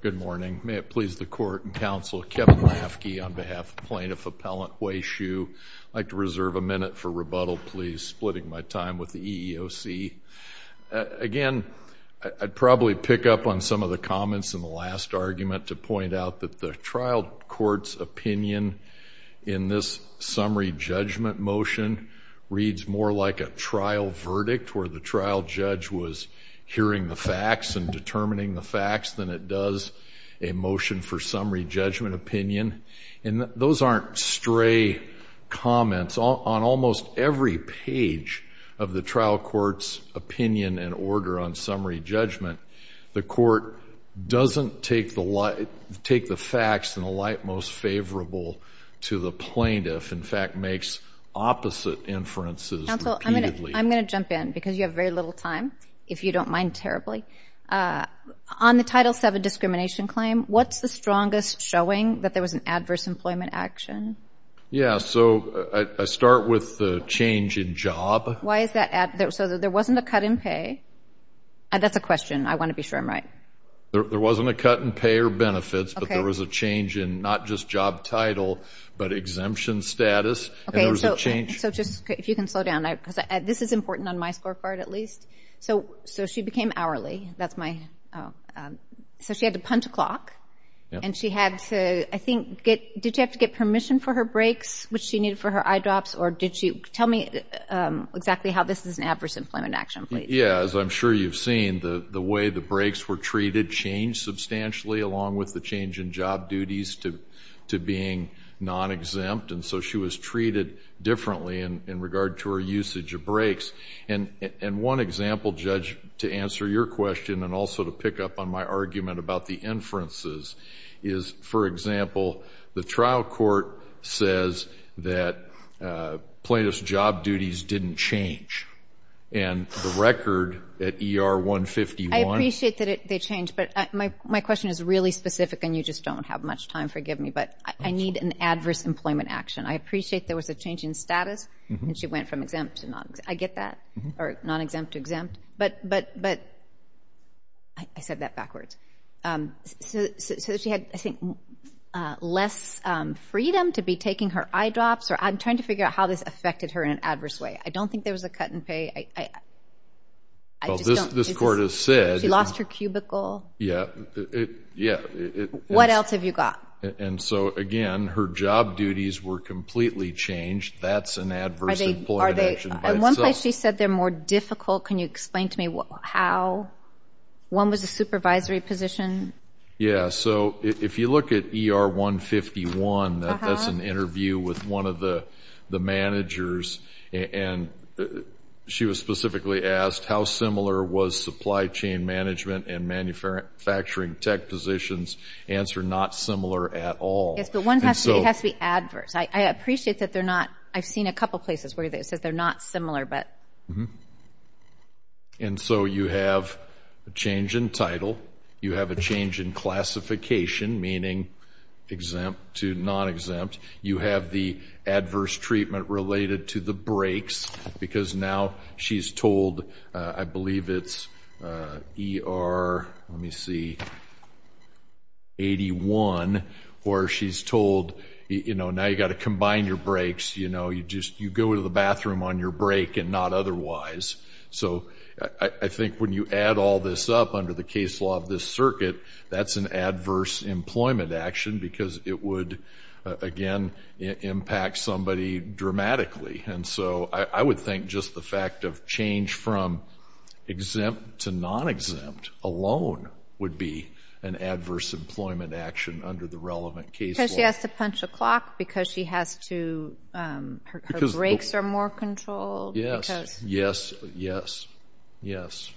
Good morning. May it please the Court and Counsel, Kevin Lafkey on behalf of Plaintiff Appellant Hui Hsu, I'd like to reserve a minute for rebuttal please, splitting my time with the EEOC. Again, I'd probably pick up on some of the comments in the last argument to point out that the trial court's opinion in this summary judgment motion reads more like a trial verdict where the trial judge was hearing the facts and determining the facts than it does a motion for summary judgment opinion. And those aren't stray comments. On almost every page of the trial court's opinion and order on summary judgment, the court doesn't take the facts in the light most favorable to the plaintiff, in fact makes opposite inferences repeatedly. Counsel, I'm going to jump in because you have very little time, if you don't mind terribly. On the Title VII discrimination claim, what's the strongest showing that there was an adverse employment action? Yeah, so I start with the change in job. Why is that? So there wasn't a cut in pay? That's a question, I want to be sure I'm right. There wasn't a cut in pay or benefits, but there was a change in not just job title, but exemption status. Okay, so just if you can slow down, because this is important on my scorecard at least. So she became hourly, that's my, so she had to punt a clock and she had to, I think, did she have to get permission for her breaks, which she needed for her eye drops, or did she, tell me exactly how this is an adverse employment action, please. Yeah, as I'm sure you've seen, the way the breaks were treated changed substantially along with the change in job duties to being non-exempt. And so she was treated differently in regard to her usage of breaks. And one example, Judge, to answer your question and also to pick up on my argument about the inferences is, for example, the trial court says that plaintiff's job duties didn't change. And the record at ER 151- and you just don't have much time, forgive me, but I need an adverse employment action. I appreciate there was a change in status and she went from exempt to non-exempt. I get that, or non-exempt to exempt, but I said that backwards. So she had, I think, less freedom to be taking her eye drops, or I'm trying to figure out how this affected her in an adverse way. I don't think there was a cut in pay. Well, this court has said- She lost her cubicle. Yeah, yeah. What else have you got? And so, again, her job duties were completely changed. That's an adverse employment action by itself. Are they, in one place she said they're more difficult. Can you explain to me how? One was a supervisory position. Yeah, so if you look at ER 151, that's an interview with one of the managers. And she was specifically asked how similar was supply chain management and manufacturing tech positions. Answer, not similar at all. Yes, but one has to be adverse. I appreciate that they're not. I've seen a couple places where it says they're not similar, but- And so you have a change in title. You have a change in classification, meaning exempt to non-exempt. You have the adverse treatment related to the breaks because now she's told, I believe it's ER, let me see, 81, where she's told, now you got to combine your breaks. You go to the bathroom on your break and not otherwise. So I think when you add all this up under the case law of this circuit, that's an adverse employment action because it would, again, impact somebody dramatically. And so I would think just the fact of change from exempt to non-exempt alone would be an adverse employment action under the relevant case law. Because she has to punch a clock, because her breaks are more controlled. Yes, yes, yes, yes.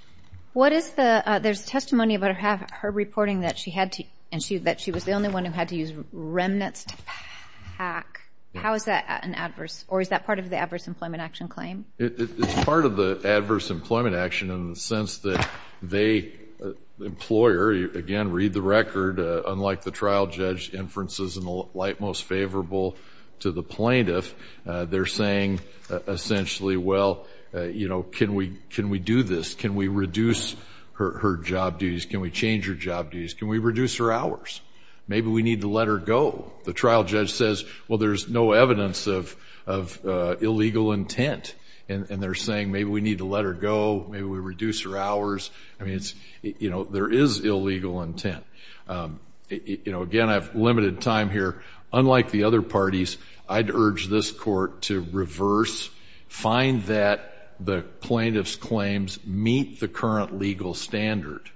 What is the, there's testimony about her reporting that she had to, someone who had to use remnants to pack. How is that an adverse, or is that part of the adverse employment action claim? It's part of the adverse employment action in the sense that they, employer, again, read the record, unlike the trial judge inferences in the light most favorable to the plaintiff, they're saying essentially, well, you know, can we do this? Can we reduce her job duties? Can we change her job duties? Can we reduce her hours? Maybe we need to let her go. The trial judge says, well, there's no evidence of illegal intent. And they're saying maybe we need to let her go. Maybe we reduce her hours. I mean, it's, you know, there is illegal intent. You know, again, I've limited time here. Unlike the other parties, I'd urge this court to reverse, find that the plaintiff's claims meet the current legal standard,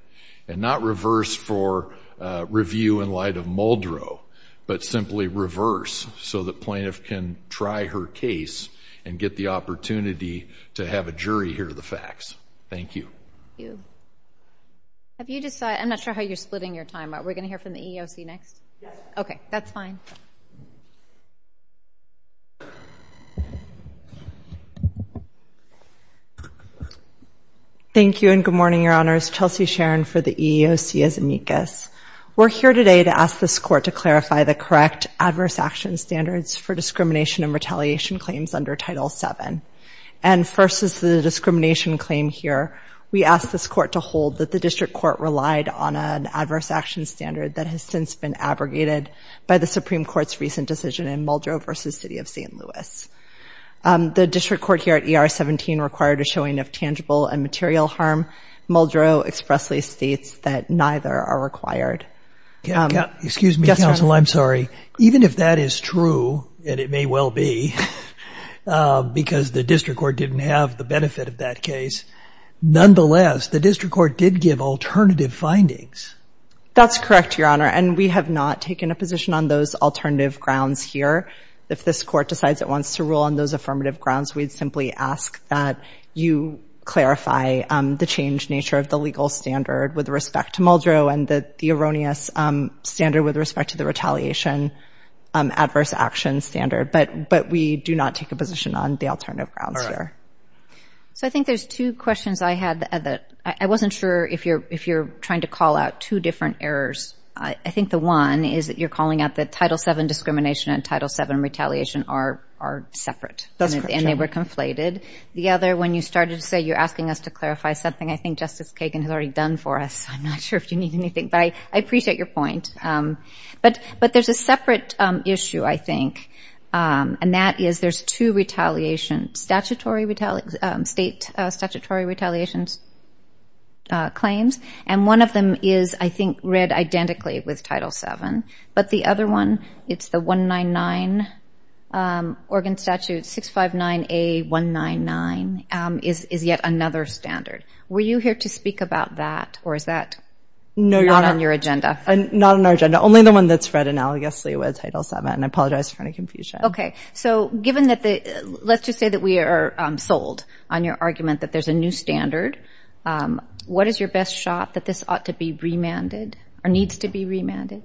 and not reverse for review in light of Muldrow, but simply reverse so the plaintiff can try her case and get the opportunity to have a jury hear the facts. Thank you. Have you decided, I'm not sure how you're splitting your time, but we're going to hear from the EEOC next? Yes. Okay, that's fine. Thank you, and good morning, Your Honors. Chelsea Sharon for the EEOC as amicus. We're here today to ask this court to clarify the correct adverse action standards for discrimination and retaliation claims under Title VII. And first is the discrimination claim here. We ask this court to hold that the district court relied on an adverse action standard that has since been abrogated by the Supreme Court's recent decision in Muldrow versus City of St. Louis. The district court here at ER 17 required a showing of tangible and material harm. Muldrow expressly states that neither are required. Excuse me, counsel. I'm sorry. Even if that is true, and it may well be, because the district court didn't have the benefit of that case, nonetheless, the district court did give alternative findings. That's correct, Your Honor. And we have not taken a position on those alternative grounds here. If this court decides it wants to rule on those affirmative grounds, we'd simply ask that you clarify the changed nature of the legal standard with respect to Muldrow and the erroneous standard with respect to the retaliation adverse action standard. But we do not take a position on the alternative grounds here. So I think there's two questions I had that I wasn't sure if you're trying to call out two different errors. I think the one is that you're calling out that Title VII discrimination and Title VII retaliation are separate. That's correct, Your Honor. And they were conflated. The other, when you started to say you're asking us to clarify something, I think Justice Kagan has already done for us. I'm not sure if you need anything. But I appreciate your point. But there's a separate issue, I think, and that is there's two retaliation, state statutory retaliation claims. And one of them is, I think, read identically with Title VII. But the other one, it's the 199, Oregon Statute 659A199 is yet another standard. Were you here to speak about that? Or is that not on your agenda? Not on our agenda. Only the one that's read analogously with Title VII. And I apologize in front of Confucius. OK. So given that, let's just say that we are sold on your argument that there's a new standard. What is your best shot that this ought to be remanded or needs to be remanded?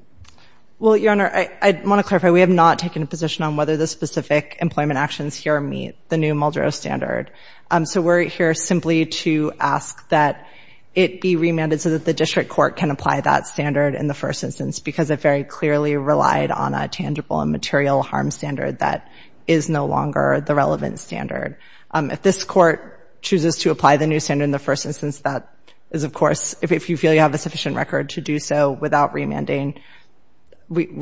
Well, Your Honor, I want to clarify. We have not taken a position on whether the specific employment actions here meet the new Muldrow standard. So we're here simply to ask that it be remanded so that the district court can apply that standard in the first instance because it very clearly relied on a tangible and material harm standard that is no longer the relevant standard. If this court chooses to apply the new standard in the first instance, that is, of course, if you feel you have a sufficient record to do so without remanding, we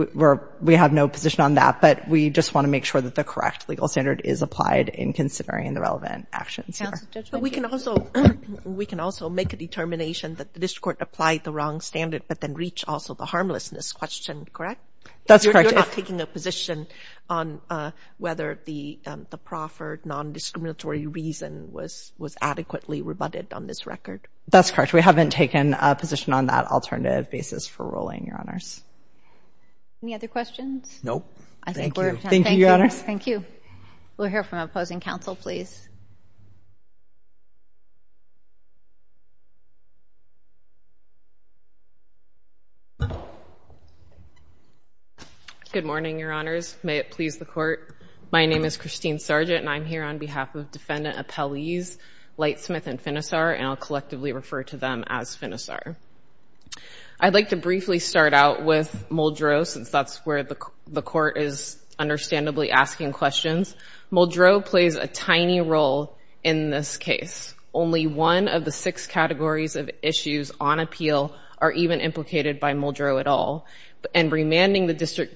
have no position on that. But we just want to make sure that the correct legal standard is applied in considering the relevant actions here. But we can also make a determination that the district court applied the wrong standard, but then reach also the harmlessness question, correct? That's correct. You're not taking a position on whether the proffered non-discriminatory reason was adequately rebutted on this record? That's correct. We haven't taken a position on that alternative basis for ruling, Your Honors. Any other questions? Nope. Thank you. Thank you, Your Honors. Thank you. We'll hear from opposing counsel, please. Good morning, Your Honors. May it please the court. My name is Christine Sargent and I'm here on behalf of defendant appellees Lightsmith and Finisar, and I'll collectively refer to them as Finisar. I'd like to briefly start out with Muldrow, since that's where the court is understandably asking questions. Muldrow plays a tiny role in this case. Only one of the six categories of issues on appeal are even implicated by Muldrow at all. And remanding the district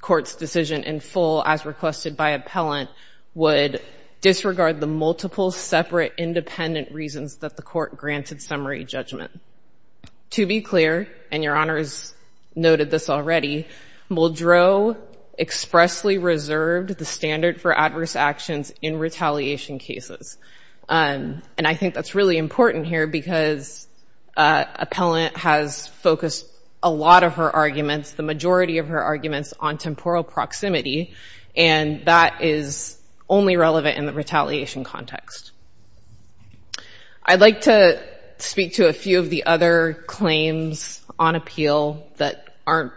court's decision in full, as requested by appellant, would disregard the multiple separate independent reasons that the court granted summary judgment. To be clear, and Your Honors noted this already, Muldrow expressly reserved the standard for adverse actions in retaliation cases. And I think that's really important here because appellant has focused a lot of her arguments, the majority of her arguments, on temporal proximity. And that is only relevant in the retaliation context. I'd like to speak to a few of the other claims on appeal that aren't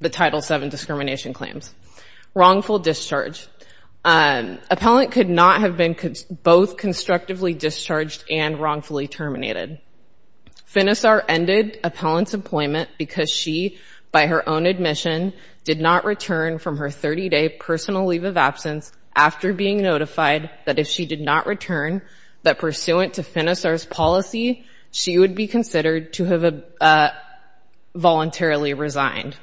the Title VII discrimination claims. Wrongful discharge. Appellant could not have been both constructively discharged and wrongfully terminated. Finisar ended appellant's employment because she, by her own admission, did not return from her 30-day personal leave of absence after being notified that if she did not return, that pursuant to Finisar's policy, she would be considered to have voluntarily resigned.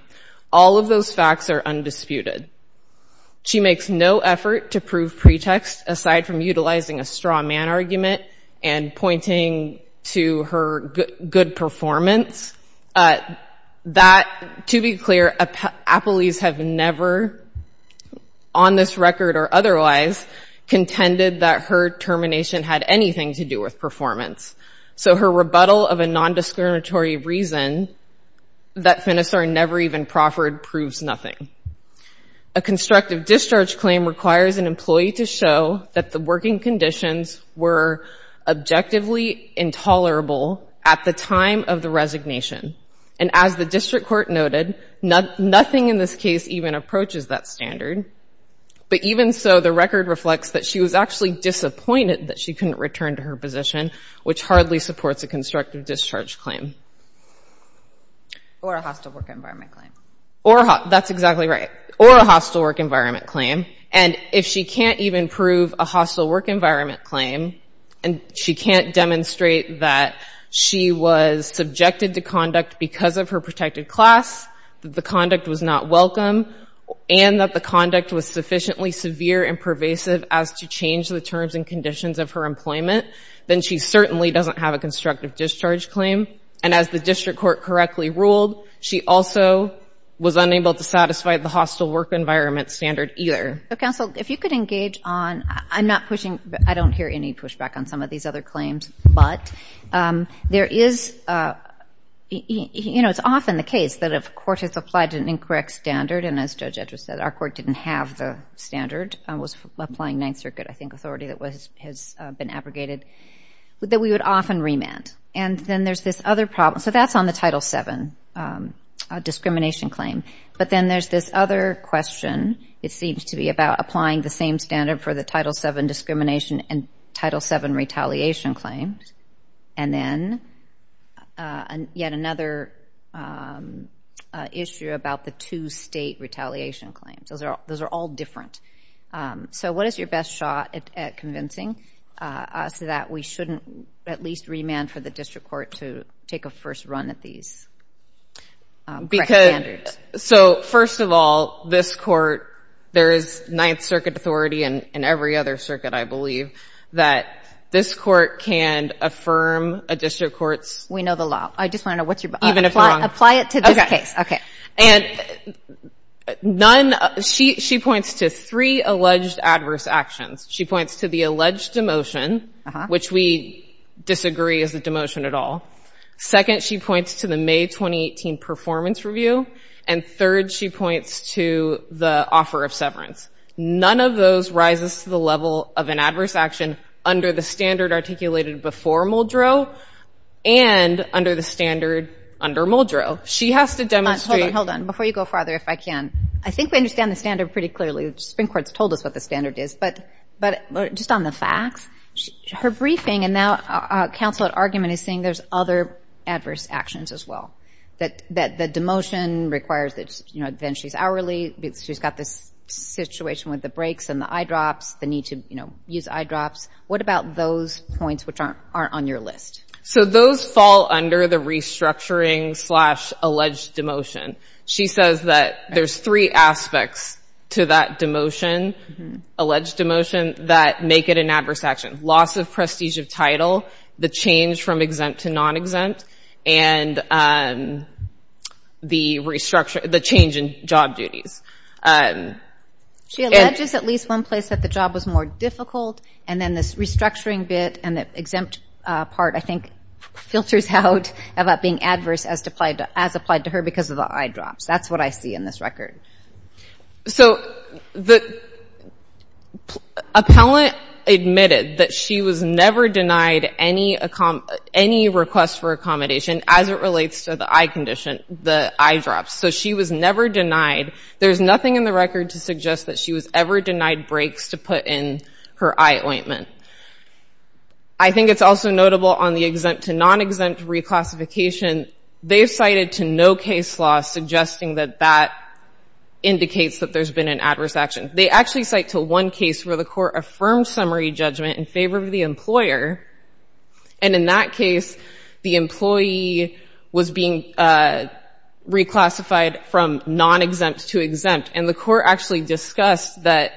All of those facts are undisputed. She makes no effort to prove pretext aside from utilizing a straw man argument and pointing to her good performance. That, to be clear, appellees have never, on this record or otherwise, contended that her termination had anything to do with performance. So her rebuttal of a nondiscriminatory reason that Finisar never even proffered proves nothing. A constructive discharge claim requires an employee to show that the working conditions were objectively intolerable at the time of the resignation. And as the district court noted, nothing in this case even approaches that standard. But even so, the record reflects that she was actually disappointed that she couldn't return to her position, which hardly supports a constructive discharge claim. Or a hostile work environment claim. That's exactly right. Or a hostile work environment claim. And if she can't even prove a hostile work environment claim, and she can't demonstrate that she was subjected to conduct because of her protected class, that the conduct was not welcome, and that the conduct was sufficiently severe and pervasive as to change the terms and conditions of her employment, then she certainly doesn't have a constructive discharge claim. And as the district court correctly ruled, she also was unable to satisfy the hostile work environment standard either. So, counsel, if you could engage on, I'm not pushing, I don't hear any pushback on some of these other claims, but there is, you know, it's often the case that if a court has applied to an incorrect standard, and as Judge Edwards said, our court didn't have the standard, was applying Ninth Circuit, I think, authority that has been abrogated, that we would often remand. And then there's this other problem. So that's on the Title VII discrimination claim. But then there's this other question. It seems to be about applying the same standard for the Title VII discrimination and Title VII retaliation claims. And then yet another issue about the two state retaliation claims. Those are all different. So what is your best shot at convincing us that we shouldn't at least remand for the district court to take a first run at these correct standards? So, first of all, this court, there is Ninth Circuit authority and every other circuit, I believe, that this court can affirm a district court's... We know the law. I just want to know what's your... Even if you're wrong. Apply it to this case. Okay. And she points to three alleged adverse actions. She points to the alleged demotion, which we disagree is a demotion at all. Second, she points to the May 2018 performance review. And third, she points to the offer of severance. None of those rises to the level of an adverse action under the standard articulated before Muldrow and under the standard under Muldrow. She has to demonstrate... Hold on. Before you go farther, if I can, I think we understand the standard pretty clearly. Supreme Court's told us what the standard is, but just on the facts, her briefing and counsel at argument is saying there's other adverse actions as well. That the demotion requires that... Then she's hourly. She's got this situation with the breaks and the eye drops, the need to use eye drops. What about those points which aren't on your list? So, those fall under the restructuring slash alleged demotion. She says that there's three aspects to that demotion, alleged demotion, that make it an adverse action. Loss of prestige of title, the change from exempt to non-exempt, and the change in job duties. She alleges at least one place that the job was more difficult, and then this restructuring bit and the exempt part, I think, filters out about being adverse as applied to her because of the eye drops. That's what I see in this record. So, the appellant admitted that she was never denied any request for accommodation as it relates to the eye condition, the eye drops. So, she was never denied. There's nothing in the record to suggest that she was ever denied breaks to put in her eye ointment. I think it's also notable on the exempt to non-exempt reclassification. They've cited to no case law suggesting that that indicates that there's been an adverse action. They actually cite to one case where the court affirmed summary judgment in favor of the employer, and in that case, the employee was being reclassified from non-exempt to exempt, and the court actually discussed that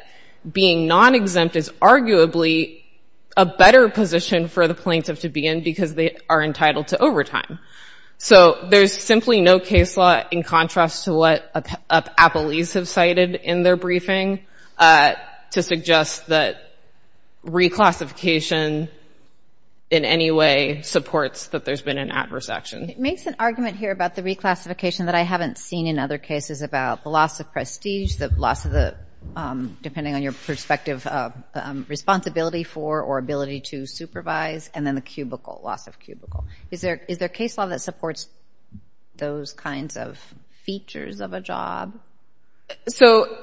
being non-exempt is arguably a better position for the plaintiff to be in because they are entitled to overtime. So, there's simply no case law in contrast to what appellees have cited in their briefing to suggest that reclassification in any way supports that there's been an adverse action. It makes an argument here about the reclassification that I haven't seen in other cases about the loss of prestige, the loss of the, depending on your perspective, responsibility for or ability to supervise, and then the cubicle, loss of cubicle. Is there, is there case law that supports those kinds of features of a job? So,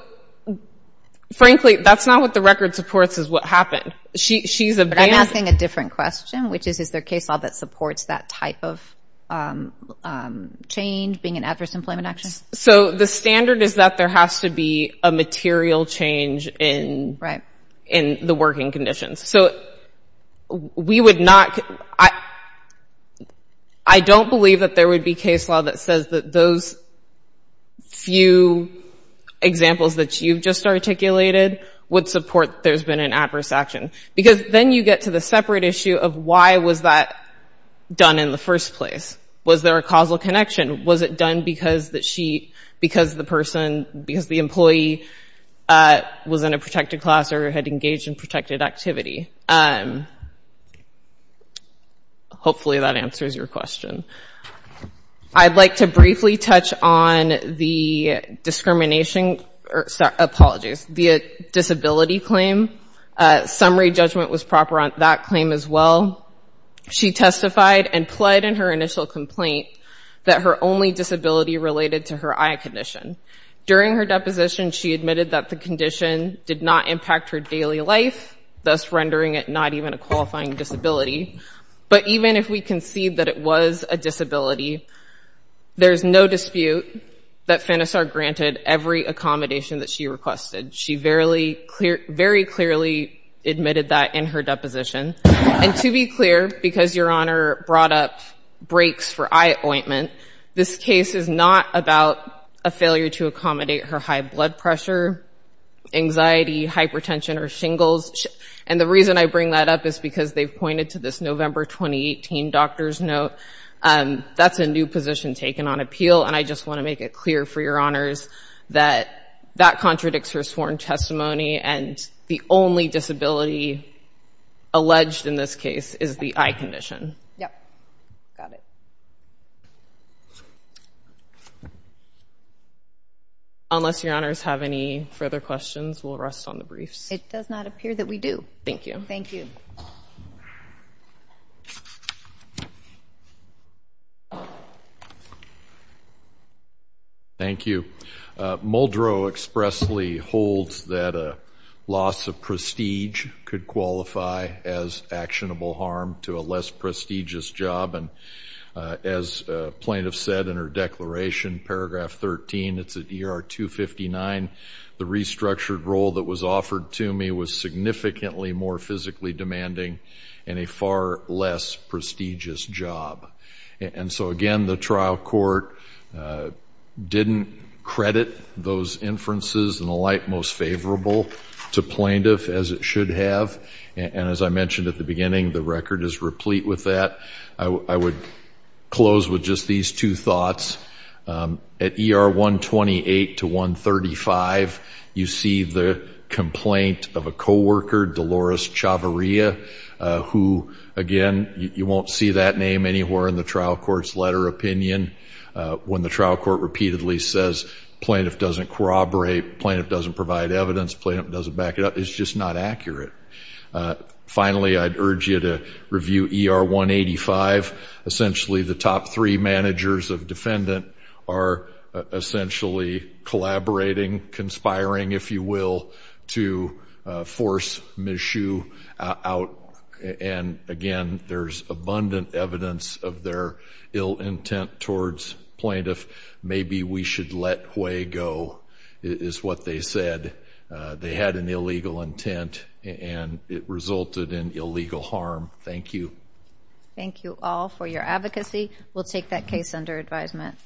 frankly, that's not what the record supports is what happened. She's a bandit. I'm asking a different question, which is, is there case law that supports that type of change being an adverse employment action? So, the standard is that there has to be a material change in the working conditions. So, we would not, I don't believe that there would be case law that says that those few examples that you've just articulated would support there's been an adverse action. Because then you get to the separate issue of why was that done in the first place? Was there a causal connection? Was it done because that she, because the person, because the employee was in a protected class or had engaged in protected activity? Hopefully that answers your question. I'd like to briefly touch on the discrimination, or apologies, the disability claim. Summary judgment was proper on that claim as well. She testified and pled in her initial complaint that her only disability related to her eye condition. During her deposition, she admitted that the condition did not impact her daily life, thus rendering it not even a qualifying disability. But even if we concede that it was a disability, there's no dispute that FANASAR granted every accommodation that she requested. She very clearly admitted that in her deposition. And to be clear, because Your Honor brought up breaks for eye ointment, this case is not about a failure to accommodate her high blood pressure, anxiety, hypertension, or shingles. And the reason I bring that up is because they've pointed to this November 2018 doctor's note. That's a new position taken on appeal. And I just want to make it clear for Your Honors that that contradicts her sworn testimony. And the only disability alleged in this case is the eye condition. Yep. Got it. Unless Your Honors have any further questions, we'll rest on the briefs. It does not appear that we do. Thank you. Thank you. Thank you. Muldrow expressly holds that a loss of prestige could qualify as actionable harm to a less prestigious job. And as plaintiff said in her declaration, paragraph 13, it's at ER 259, the restructured role that was offered to me was significantly more physically demanding and a far less prestigious job. And so again, the trial court didn't credit those inferences in the light most favorable to plaintiff as it should have. And as I mentioned at the beginning, the record is replete with that. I would close with just these two thoughts. At ER 128 to 135, you see the complaint of a coworker, Dolores Chavarria, who again, you won't see that name anywhere in the trial court's letter opinion. When the trial court repeatedly says plaintiff doesn't corroborate, plaintiff doesn't provide evidence, plaintiff doesn't back it up, it's just not accurate. Finally, I'd urge you to review ER 185. Essentially, the top three managers of defendant are essentially collaborating, conspiring, if you will, to force Ms. Hsu out. And again, there's abundant evidence of their ill intent towards plaintiff. Maybe we should let Hue go, is what they said. They had an illegal intent and it resulted in illegal harm. Thank you. Thank you all for your advocacy. We'll take that case under advisement.